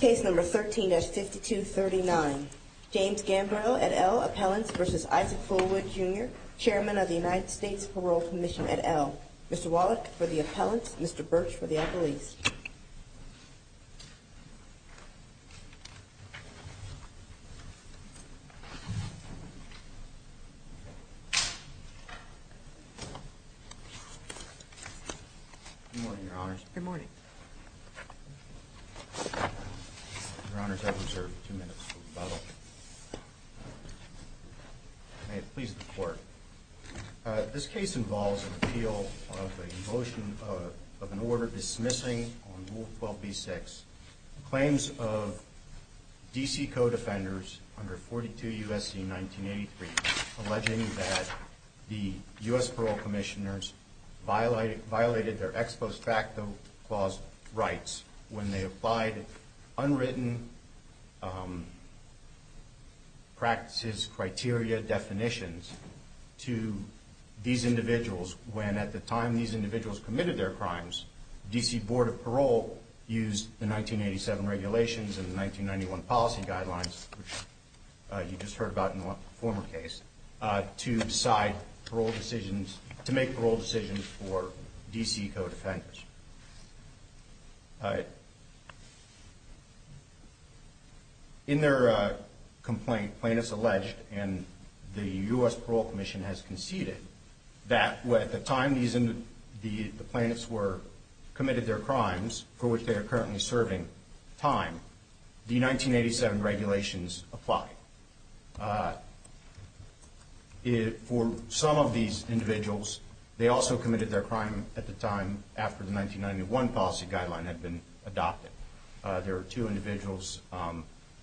Case number 13-5239. James Gambrell et al. Appellants v. Isaac Fulwood, Jr. Chairman of the United States Parole Commission et al. Mr. Wallach for the appellants, Mr. Birch for the appellees. Good morning, Your Honors. Good morning. Your Honors, I have reserved two minutes for rebuttal. May it please the Court. This case involves an appeal of a motion of an order dismissing on Rule 12b-6 claims of D.C. co-defenders under 42 U.S.C. 1983 alleging that the U.S. Parole Commissioners violated their ex post facto clause rights when they applied unwritten practices, criteria, definitions to these individuals when at the time these individuals committed their crimes, D.C. Board of Parole used the 1987 regulations and the 1991 policy guidelines, which you just heard about in the former case, to decide parole decisions, to make parole decisions for D.C. co-defenders. In their complaint, plaintiffs alleged, and the U.S. Parole Commission has conceded, that at the time these plaintiffs committed their crimes, for which they are currently serving time, the 1987 regulations apply. For some of these individuals, they also committed their crime at the time after the 1991 policy guideline had been adopted. There are two individuals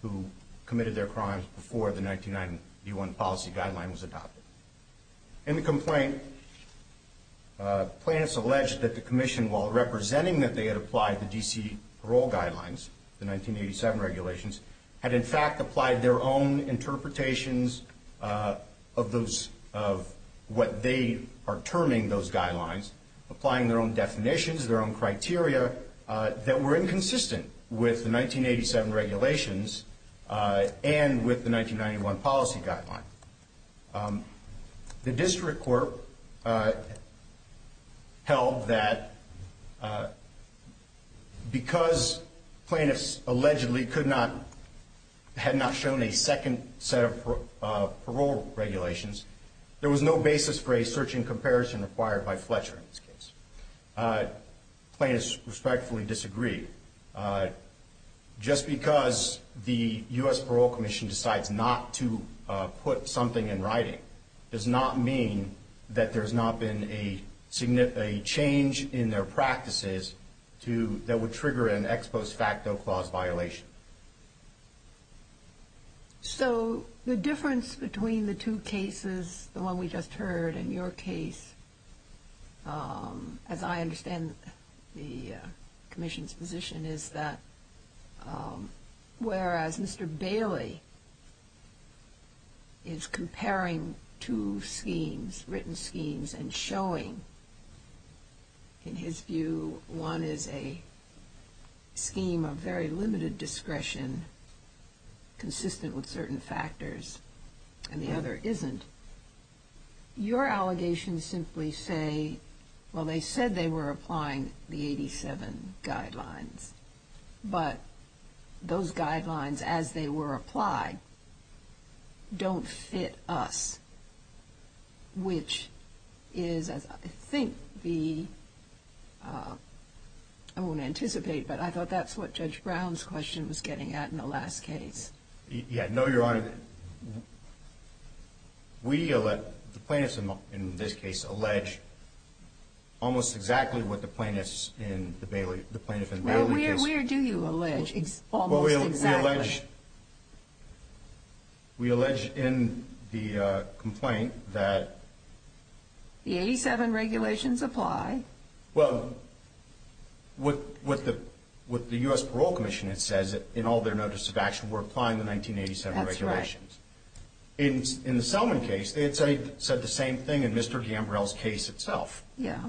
who committed their crimes before the 1991 policy guideline was adopted. In the complaint, plaintiffs alleged that the Commission, while representing that they had applied the D.C. parole guidelines, the 1987 regulations, had in fact applied their own interpretations of what they are terming those guidelines, applying their own definitions, their own criteria, that were inconsistent with the 1987 regulations and with the 1991 policy guideline. The District Court held that because plaintiffs allegedly could not, had not shown a second set of parole regulations, there was no basis for a search and comparison required by Fletcher in this case. Plaintiffs respectfully disagree. Just because the U.S. Parole Commission decides not to put something in writing does not mean that there has not been a change in their practices that would trigger an ex post facto clause violation. So the difference between the two cases, the one we just heard and your case, as I understand the Commission's position, is that whereas Mr. Bailey is comparing two schemes, written schemes, and showing, in his view, one is a scheme of very limited discretion, consistent with certain factors, and the other isn't, your allegations simply say, well, they said they were applying the 87 guidelines, but those guidelines, as they were applied, don't fit us, which is, I think, the, I won't anticipate, but I thought that's what Judge Brown's question was getting at in the last case. Yeah, no, Your Honor. We, the plaintiffs in this case, allege almost exactly what the plaintiffs in the Bailey case. Well, where do you allege almost exactly? We allege in the complaint that... The 87 regulations apply. Well, with the U.S. Parole Commission, it says that in all their notice of action, we're applying the 1987 regulations. That's right. In the Selman case, they had said the same thing in Mr. Gambrell's case itself. Yeah.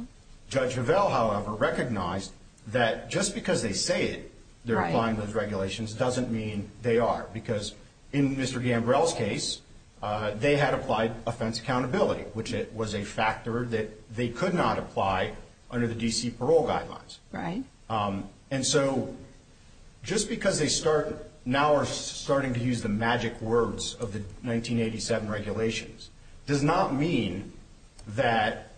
Judge Vevelle, however, recognized that just because they say it, they're applying those regulations, doesn't mean they are, because in Mr. Gambrell's case, they had applied offense accountability, which was a factor that they could not apply under the D.C. parole guidelines. Right. And so, just because they start, now are starting to use the magic words of the 1987 regulations, does not mean that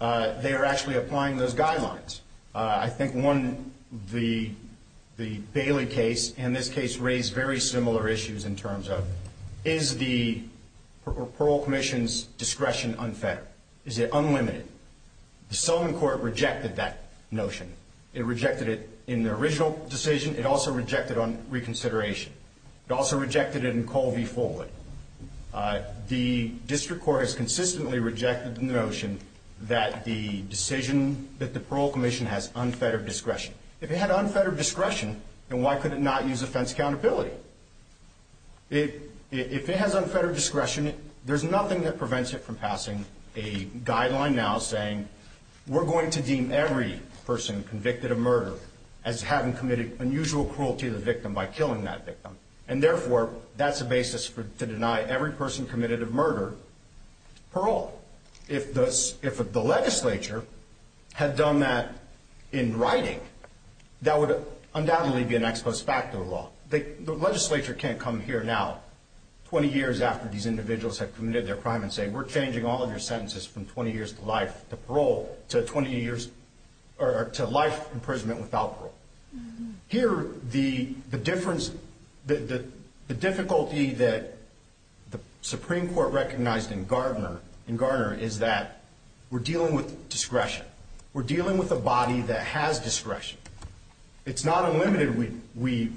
they are actually applying those guidelines. I think one, the Bailey case and this case raised very similar issues in terms of, is the parole commission's discretion unfettered? Is it unlimited? The Selman court rejected that notion. It rejected it in the original decision. It also rejected it on reconsideration. It also rejected it in Colby-Ford. The district court has consistently rejected the notion that the decision that the parole commission has unfettered discretion. If it had unfettered discretion, then why could it not use offense accountability? If it has unfettered discretion, there's nothing that prevents it from passing a guideline now saying, we're going to deem every person convicted of murder as having committed unusual cruelty to the victim by killing that victim. And therefore, that's a basis to deny every person committed of murder parole. If the legislature had done that in writing, that would undoubtedly be an ex post facto law. The legislature can't come here now, 20 years after these individuals have committed their crime and say, we're changing all of your sentences from 20 years to life, to parole, to 20 years, or to life imprisonment without parole. Here, the difficulty that the Supreme Court recognized in Gardner is that we're dealing with discretion. We're dealing with a body that has discretion. It's not unlimited, we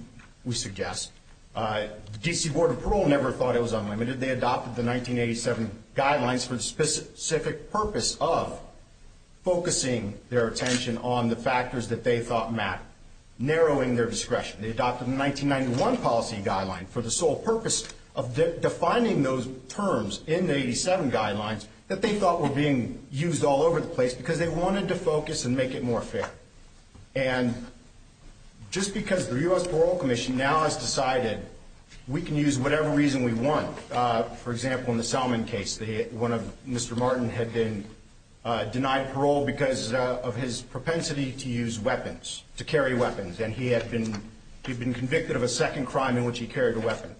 suggest. The D.C. Board of Parole never thought it was unlimited. They adopted the 1987 guidelines for the specific purpose of focusing their attention on the factors that they thought mapped, narrowing their discretion. They adopted the 1991 policy guideline for the sole purpose of defining those terms in the 87 guidelines that they thought were being used all over the place because they wanted to focus and make it more fair. And just because the U.S. Parole Commission now has decided we can use whatever reason we want. For example, in the Selman case, one of Mr. Martin had been denied parole because of his propensity to use weapons, to carry weapons. And he had been convicted of a second crime in which he carried a weapon.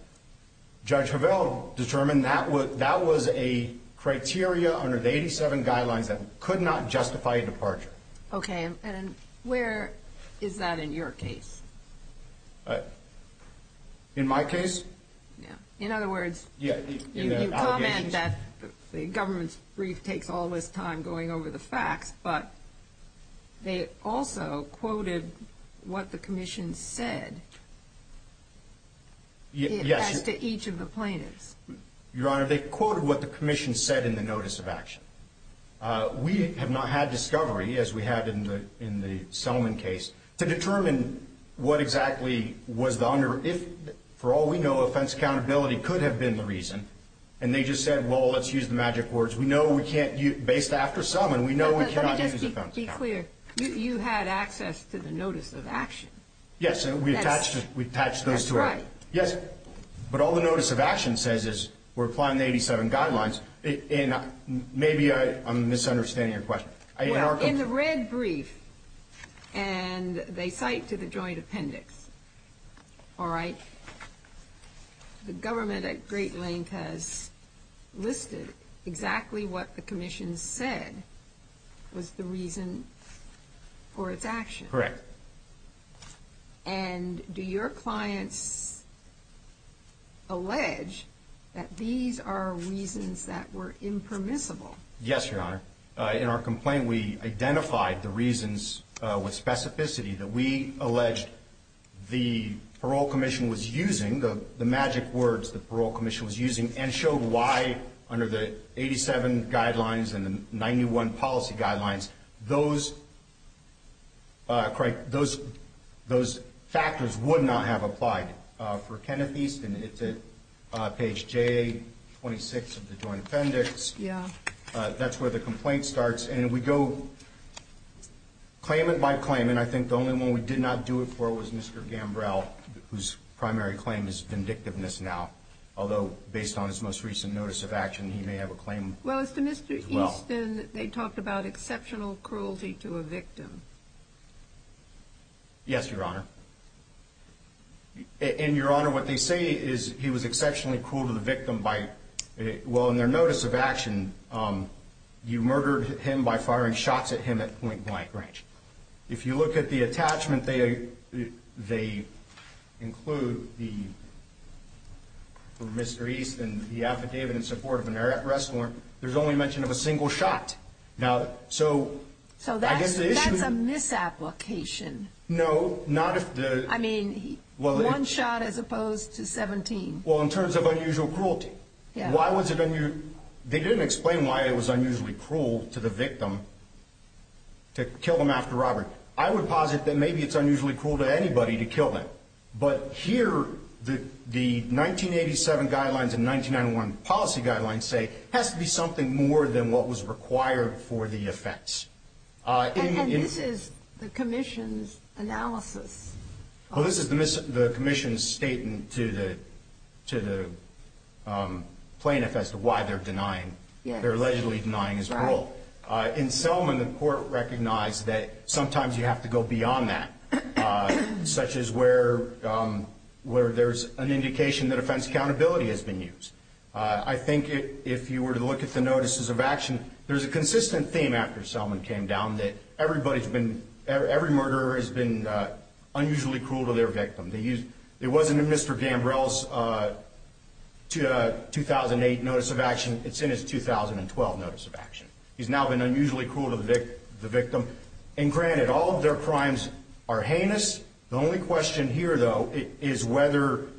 Judge Hovell determined that was a criteria under the 87 guidelines that could not justify a departure. Okay, and where is that in your case? In my case? Yeah. In other words, you comment that the government's brief takes all this time going over the facts, but they also quoted what the commission said as to each of the plaintiffs. Your Honor, they quoted what the commission said in the notice of action. We have not had discovery, as we had in the Selman case, to determine what exactly was the under – if, for all we know, offense accountability could have been the reason. And they just said, well, let's use the magic words. We know we can't – based after Selman, we know we cannot use offense accountability. Let me just be clear. You had access to the notice of action. Yes, and we attached those to it. That's right. Yes. But all the notice of action says is we're applying the 87 guidelines, and maybe I'm misunderstanding your question. Well, in the red brief, and they cite to the joint appendix, all right, the government at great length has listed exactly what the commission said was the reason for its action. Correct. And do your clients allege that these are reasons that were impermissible? Yes, Your Honor. In our complaint, we identified the reasons with specificity that we alleged the parole commission was using, the magic words the parole commission was using, and showed why, under the 87 guidelines and the 91 policy guidelines, those – correct – those factors would not have applied. For Kenneth Easton, it's at page J26 of the joint appendix. Yeah. That's where the complaint starts, and we go claimant by claimant. I think the only one we did not do it for was Mr. Gambrell, whose primary claim is vindictiveness now. Although, based on his most recent notice of action, he may have a claim as well. Well, as to Mr. Easton, they talked about exceptional cruelty to a victim. Yes, Your Honor. And, Your Honor, what they say is he was exceptionally cruel to the victim by – well, in their notice of action, you murdered him by firing shots at him at point-blank range. If you look at the attachment, they include the – for Mr. Easton, the affidavit in support of an arrest warrant, there's only mention of a single shot. Now, so I guess the issue – So that's a misapplication. No, not if the – I mean, one shot as opposed to 17. Well, in terms of unusual cruelty, why was it – they didn't explain why it was unusually cruel to the victim to kill them after robbery. I would posit that maybe it's unusually cruel to anybody to kill them. But here, the 1987 guidelines and 1991 policy guidelines say it has to be something more than what was required for the offense. And this is the commission's analysis. Well, this is the commission's statement to the plaintiff as to why they're denying – they're allegedly denying his cruelty. In Selman, the court recognized that sometimes you have to go beyond that, such as where there's an indication that offense accountability has been used. I think if you were to look at the notices of action, there's a consistent theme after Selman came down that everybody's been – every murderer has been unusually cruel to their victim. It wasn't in Mr. Gambrell's 2008 notice of action. It's in his 2012 notice of action. He's now been unusually cruel to the victim. And granted, all of their crimes are heinous. The only question here, though, is whether –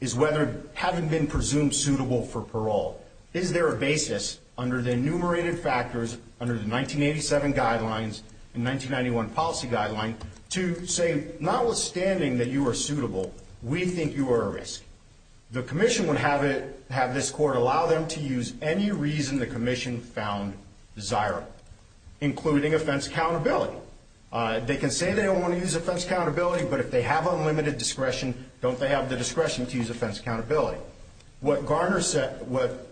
is whether having been presumed suitable for parole, is there a basis under the enumerated factors, under the 1987 guidelines and 1991 policy guidelines, to say notwithstanding that you are suitable, we think you are a risk. The commission would have it – have this court allow them to use any reason the commission found desirable, including offense accountability. They can say they don't want to use offense accountability, but if they have unlimited discretion, don't they have the discretion to use offense accountability? What Garner said – what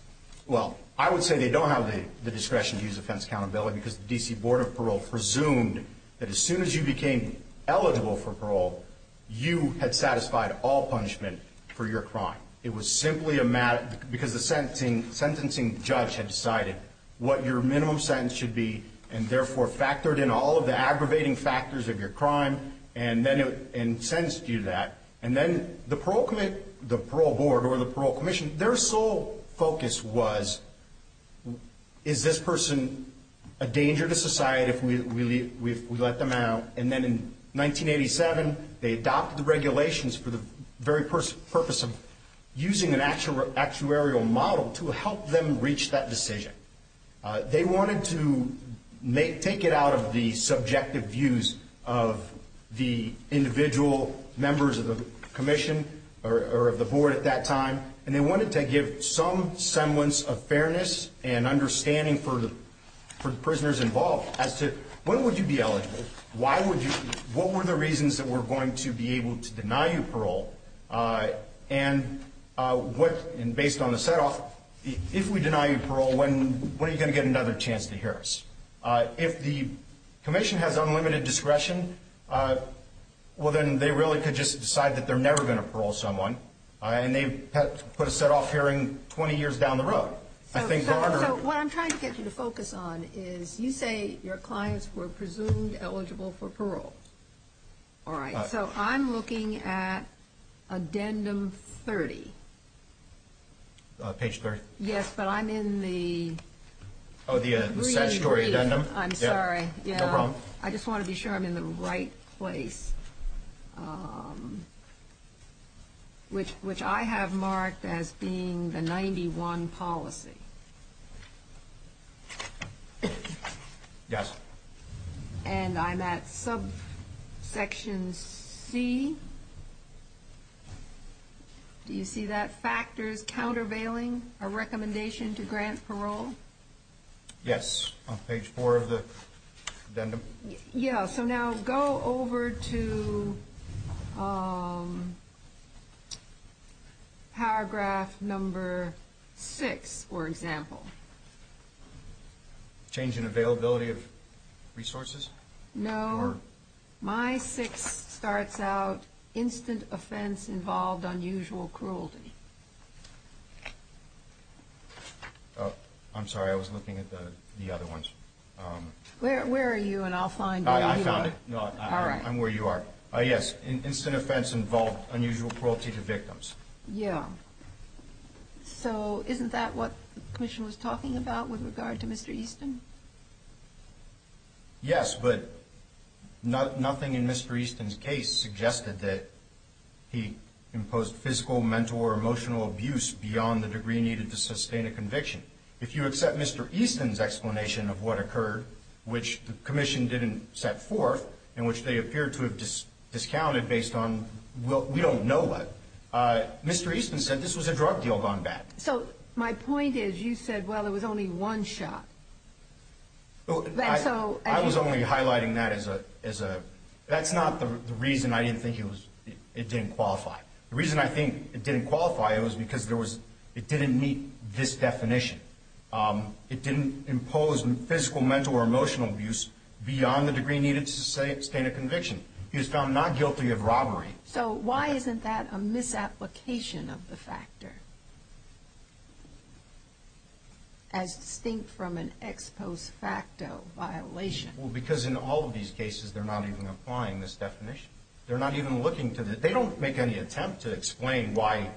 – well, I would say they don't have the discretion to use offense accountability because the D.C. Board of Parole presumed that as soon as you became eligible for parole, you had satisfied all punishment for your crime. It was simply a – because the sentencing judge had decided what your minimum sentence should be and therefore factored in all of the aggravating factors of your crime and then – and sentenced you to that. And then the parole – the parole board or the parole commission, their sole focus was, is this person a danger to society if we let them out? And then in 1987, they adopted the regulations for the very purpose of using an actuarial model to help them reach that decision. They wanted to make – take it out of the subjective views of the individual members of the commission or of the board at that time, and they wanted to give some semblance of fairness and understanding for the prisoners involved as to when would you be eligible, why would you – what were the reasons that were going to be able to deny you parole, and what – and based on the set-off, if we deny you parole, when are you going to get another chance to hear us? If the commission has unlimited discretion, well, then they really could just decide that they're never going to parole someone, and they put a set-off hearing 20 years down the road. So what I'm trying to get you to focus on is you say your clients were presumed eligible for parole. All right, so I'm looking at addendum 30. Page 30. Yes, but I'm in the – Oh, the statutory addendum? I'm sorry. No problem. I just want to be sure I'm in the right place, which I have marked as being the 91 policy. Yes. And I'm at subsection C. Do you see that? Factors countervailing a recommendation to grant parole. Yes, on page 4 of the addendum. Yeah, so now go over to paragraph number 6, for example. Change in availability of resources? No. Or? My 6 starts out, instant offense involved unusual cruelty. Oh, I'm sorry. I was looking at the other ones. Where are you? And I'll find you. I found it. All right. I'm where you are. Yes, instant offense involved unusual cruelty to victims. Yeah. So isn't that what the commission was talking about with regard to Mr. Easton? Yes, but nothing in Mr. Easton's case suggested that he imposed physical, mental, or emotional abuse beyond the degree needed to sustain a conviction. If you accept Mr. Easton's explanation of what occurred, which the commission didn't set forth, and which they appear to have discounted based on we don't know what, Mr. Easton said this was a drug deal gone bad. So my point is you said, well, it was only one shot. I was only highlighting that as a – that's not the reason I didn't think it didn't qualify. The reason I think it didn't qualify was because it didn't meet this definition. It didn't impose physical, mental, or emotional abuse beyond the degree needed to sustain a conviction. He was found not guilty of robbery. So why isn't that a misapplication of the factor as distinct from an ex post facto violation? Well, because in all of these cases they're not even applying this definition. They're not even looking to – they don't make any attempt to explain why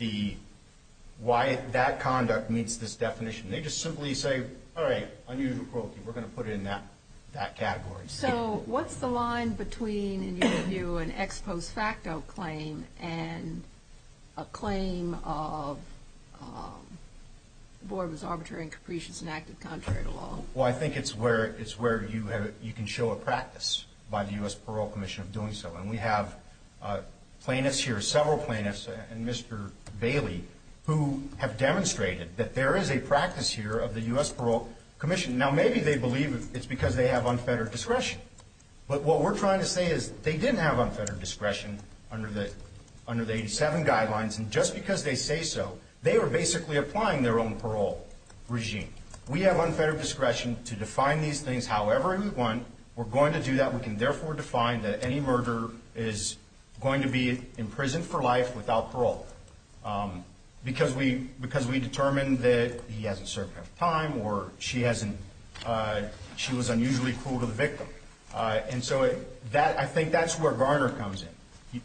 the – why that conduct meets this definition. They just simply say, all right, unusual cruelty. We're going to put it in that category. So what's the line between, in your view, an ex post facto claim and a claim of the board was arbitrary and capricious and acted contrary to law? Well, I think it's where you can show a practice by the U.S. Parole Commission of doing so. And we have plaintiffs here, several plaintiffs, and Mr. Bailey, who have demonstrated that there is a practice here of the U.S. Parole Commission. Now, maybe they believe it's because they have unfettered discretion. But what we're trying to say is they didn't have unfettered discretion under the 87 guidelines. And just because they say so, they were basically applying their own parole regime. We have unfettered discretion to define these things however we want. We're going to do that. We can therefore define that any murderer is going to be imprisoned for life without parole. Because we determined that he hasn't served enough time or she was unusually cruel to the victim. And so I think that's where Garner comes in.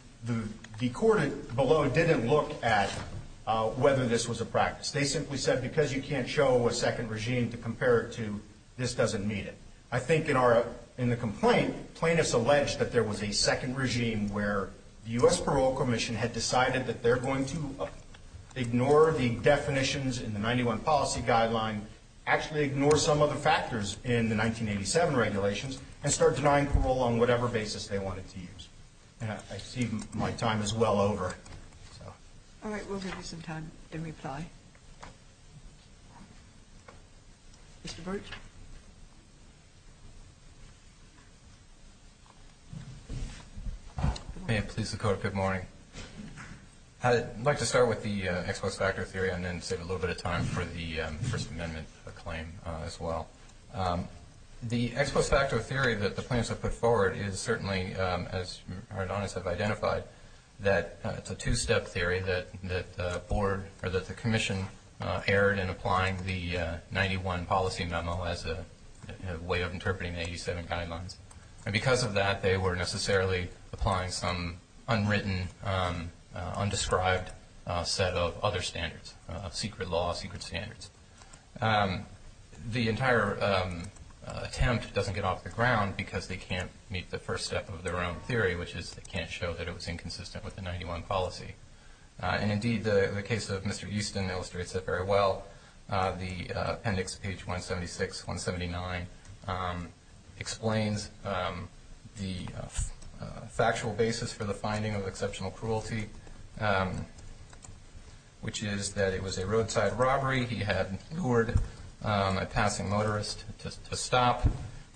The court below didn't look at whether this was a practice. They simply said because you can't show a second regime to compare it to, this doesn't meet it. I think in the complaint, plaintiffs alleged that there was a second regime where the U.S. Parole Commission had decided that they're going to ignore the definitions in the 91 policy guideline, actually ignore some other factors in the 1987 regulations, and start denying parole on whatever basis they wanted to use. And I see my time is well over. All right. We'll give you some time to reply. Okay. Mr. Burt. May it please the Court, good morning. I'd like to start with the ex post facto theory and then save a little bit of time for the First Amendment claim as well. The ex post facto theory that the plaintiffs have put forward is certainly, as our donors have identified, that it's a two-step theory that the Commission erred in applying the 91 policy memo as a way of interpreting the 87 guidelines. And because of that, they were necessarily applying some unwritten, undescribed set of other standards, secret law, secret standards. The entire attempt doesn't get off the ground because they can't meet the first step of their own theory, which is they can't show that it was inconsistent with the 91 policy. And, indeed, the case of Mr. Houston illustrates that very well. The appendix, page 176, 179, explains the factual basis for the finding of exceptional cruelty, which is that it was a roadside robbery. He had lured a passing motorist to stop.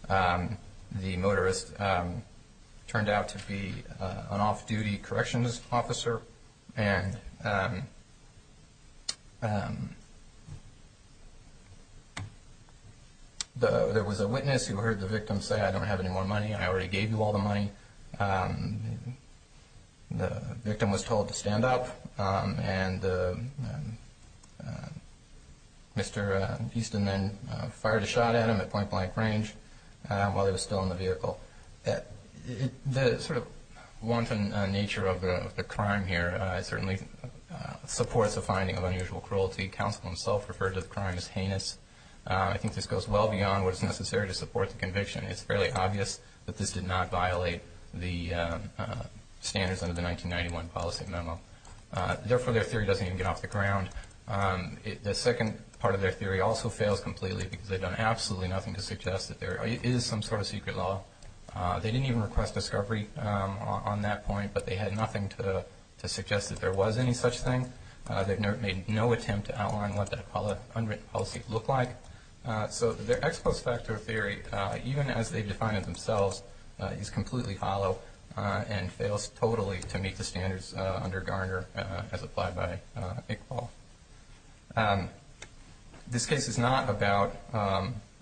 The motorist turned out to be an off-duty corrections officer. And there was a witness who heard the victim say, I don't have any more money, I already gave you all the money. The victim was told to stand up, and Mr. Houston then fired a shot at him at point-blank range while he was still in the vehicle. The sort of wanton nature of the crime here certainly supports the finding of unusual cruelty. Counsel himself referred to the crime as heinous. I think this goes well beyond what is necessary to support the conviction. It's fairly obvious that this did not violate the standards under the 1991 policy memo. Therefore, their theory doesn't even get off the ground. The second part of their theory also fails completely because they've done absolutely nothing to suggest that there is some sort of secret law. They didn't even request discovery on that point, but they had nothing to suggest that there was any such thing. They've made no attempt to outline what that unwritten policy looked like. So their ex post facto theory, even as they define it themselves, is completely hollow and fails totally to meet the standards under Garner as applied by Iqbal. This case is not about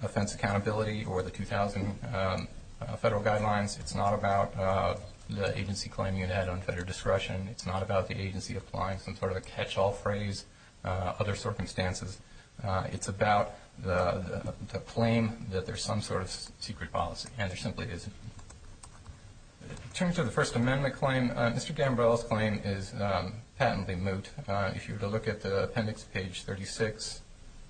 offense accountability or the 2000 federal guidelines. It's not about the agency claiming it had unfettered discretion. It's not about the agency applying some sort of a catch-all phrase, other circumstances. It's about the claim that there's some sort of secret policy, and there simply isn't. In terms of the First Amendment claim, Mr. Gambrell's claim is patently moot. If you were to look at the appendix, page 36,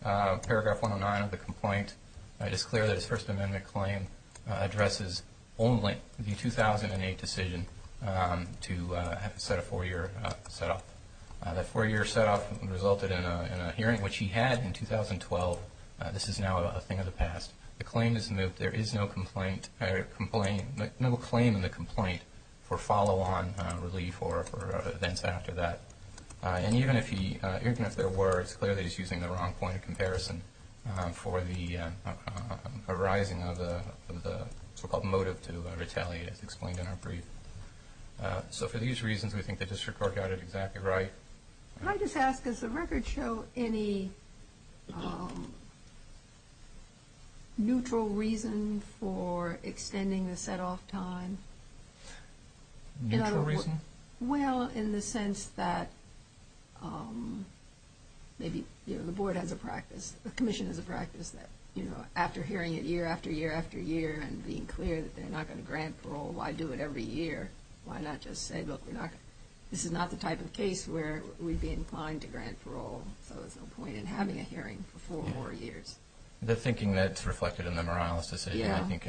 paragraph 109 of the complaint, it is clear that his First Amendment claim addresses only the 2008 decision to set a four-year set-off. That four-year set-off resulted in a hearing, which he had in 2012. This is now a thing of the past. The claim is moot. There is no claim in the complaint for follow-on relief or for events after that. And even if there were, it's clear that he's using the wrong point of comparison for the arising of the so-called motive to retaliate, as explained in our brief. So for these reasons, we think the district court got it exactly right. Can I just ask, does the record show any neutral reason for extending the set-off time? Neutral reason? Well, in the sense that maybe, you know, the board has a practice, the commission has a practice that, you know, after hearing it year after year after year and being clear that they're not going to grant parole, why do it every year? Why not just say, look, this is not the type of case where we'd be inclined to grant parole, so there's no point in having a hearing for four more years. The thinking that's reflected in the Morales decision, I think,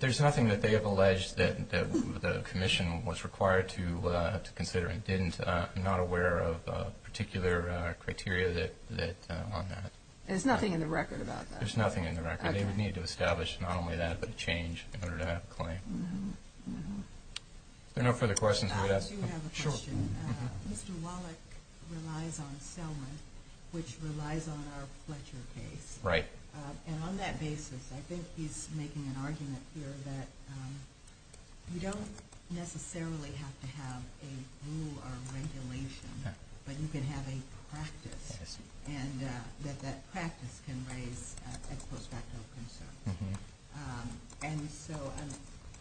there's nothing that they have alleged that the commission was required to consider and did not aware of particular criteria on that. There's nothing in the record about that? There's nothing in the record. They would need to establish not only that, but change in order to have a claim. If there are no further questions, we would ask them. I do have a question. Mr. Wallach relies on Selma, which relies on our Fletcher case. Right. And on that basis, I think he's making an argument here that you don't necessarily have to have a rule or regulation, but you can have a practice and that that practice can raise ex post facto concerns. And so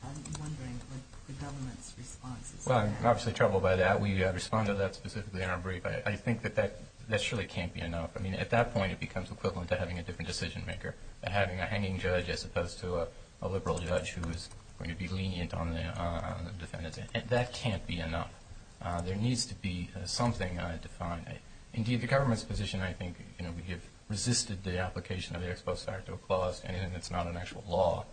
I'm wondering what the government's response is to that. Well, I'm obviously troubled by that. We respond to that specifically in our brief. I think that that surely can't be enough. I mean, at that point, it becomes equivalent to having a different decision maker and having a hanging judge as opposed to a liberal judge who is going to be lenient on the defendant. That can't be enough. There needs to be something defined. Indeed, the government's position, I think, we have resisted the application of the ex post facto clause and it's not an actual law.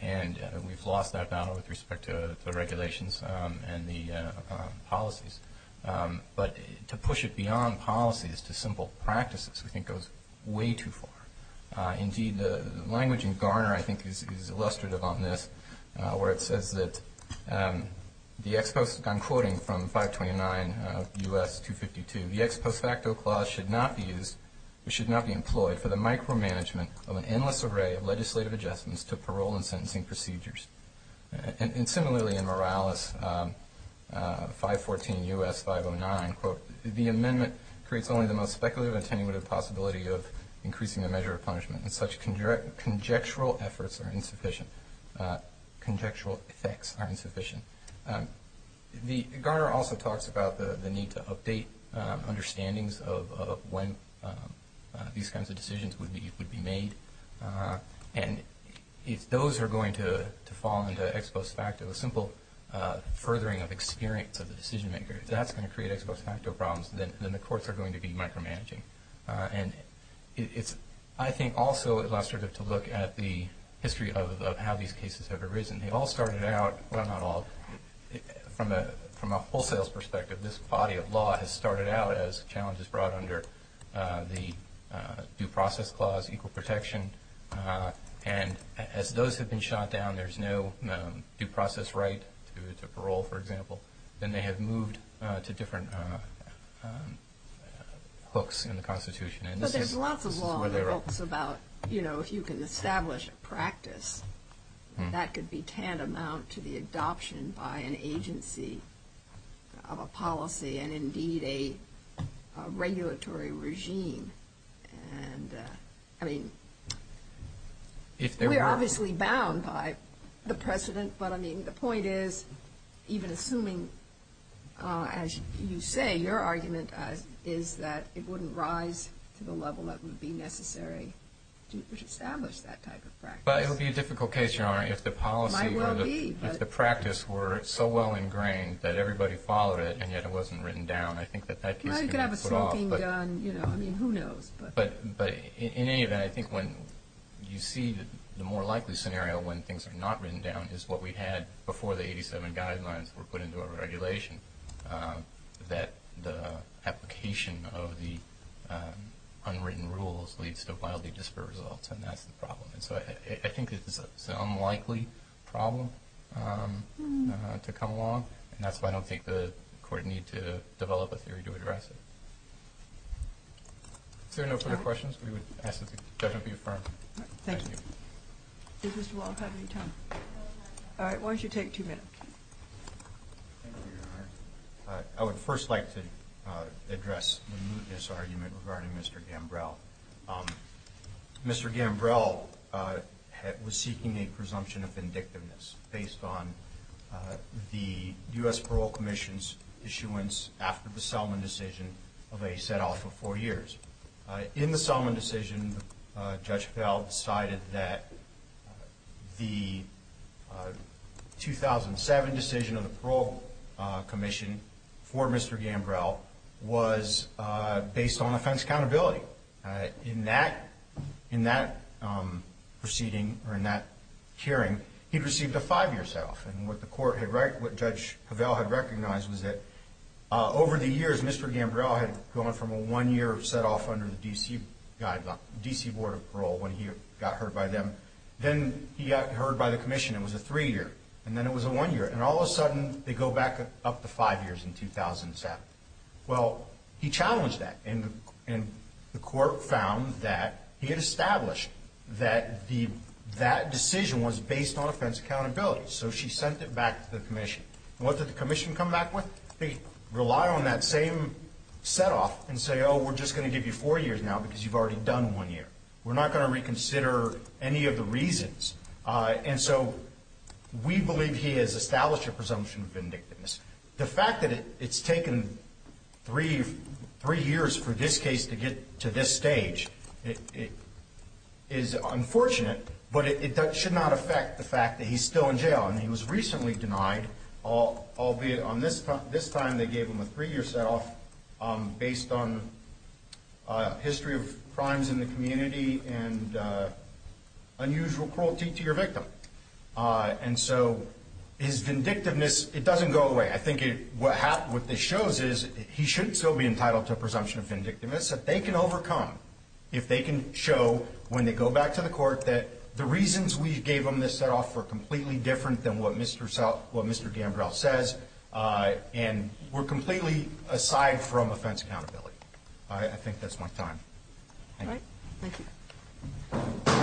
And we've lost that battle with respect to the regulations and the policies. But to push it beyond policies to simple practices, I think, goes way too far. Indeed, the language in Garner, I think, is illustrative on this, where it says that the ex post, I'm quoting from 529 U.S. 252, the ex post facto clause should not be used, should not be employed for the micromanagement of an endless array of legislative adjustments to parole and sentencing procedures. And similarly in Morales 514 U.S. 509, quote, the amendment creates only the most speculative and attenuative possibility of increasing the measure of punishment and such conjectural efforts are insufficient, conjectural effects are insufficient. Garner also talks about the need to update understandings of when these kinds of decisions would be made. And if those are going to fall into ex post facto, a simple furthering of experience of the decision maker, if that's going to create ex post facto problems, then the courts are going to be micromanaging. And it's, I think, also illustrative to look at the history of how these cases have arisen. They all started out, well, not all, from a wholesale perspective, this body of law has started out as challenges brought under the due process clause, equal protection. And as those have been shot down, there's no due process right to parole, for example. Then they have moved to different hooks in the Constitution. But there's lots of law in the books about, you know, if you can establish a practice, that could be tantamount to the adoption by an agency of a policy and indeed a regulatory regime. And, I mean, we're obviously bound by the precedent. But, I mean, the point is, even assuming, as you say, your argument is that it wouldn't rise to the level that would be necessary to establish that type of practice. But it would be a difficult case, Your Honor, if the policy or the practice were so well ingrained that everybody followed it, and yet it wasn't written down. I think that that case could be put off. You know, you could have a smoking gun, you know, I mean, who knows. But in any event, I think when you see the more likely scenario when things are not written down, is what we had before the 87 guidelines were put into our regulation, that the application of the unwritten rules leads to wildly disparate results. And that's the problem. And so I think it's an unlikely problem to come along. And that's why I don't think the Court need to develop a theory to address it. Is there no further questions? We would ask that the judgment be affirmed. Thank you. Does Mr. Wald have any time? All right, why don't you take two minutes? Thank you, Your Honor. I would first like to address the mootness argument regarding Mr. Gambrell. Mr. Gambrell was seeking a presumption of vindictiveness based on the U.S. Parole Commission's issuance, after the Selman decision, of a set-off of four years. In the Selman decision, Judge Cavell decided that the 2007 decision of the Parole Commission for Mr. Gambrell was based on offense accountability. In that proceeding, or in that hearing, he received a five-year set-off. And what Judge Cavell had recognized was that over the years, Mr. Gambrell had gone from a one-year set-off under the D.C. Board of Parole when he got heard by them. Then he got heard by the Commission. It was a three-year. And then it was a one-year. And all of a sudden, they go back up to five years in 2007. Well, he challenged that. And the Court found that he had established that that decision was based on offense accountability. So she sent it back to the Commission. And what did the Commission come back with? They rely on that same set-off and say, oh, we're just going to give you four years now because you've already done one year. We're not going to reconsider any of the reasons. And so we believe he has established a presumption of vindictiveness. The fact that it's taken three years for this case to get to this stage is unfortunate, but it should not affect the fact that he's still in jail. And he was recently denied, albeit on this time they gave him a three-year set-off, based on history of crimes in the community and unusual cruelty to your victim. And so his vindictiveness, it doesn't go away. I think what this shows is he should still be entitled to a presumption of vindictiveness that they can overcome if they can show when they go back to the Court that the reasons we gave them this set-off were completely different than what Mr. Gambrell says and were completely aside from offense accountability. I think that's my time. Thank you. Thank you.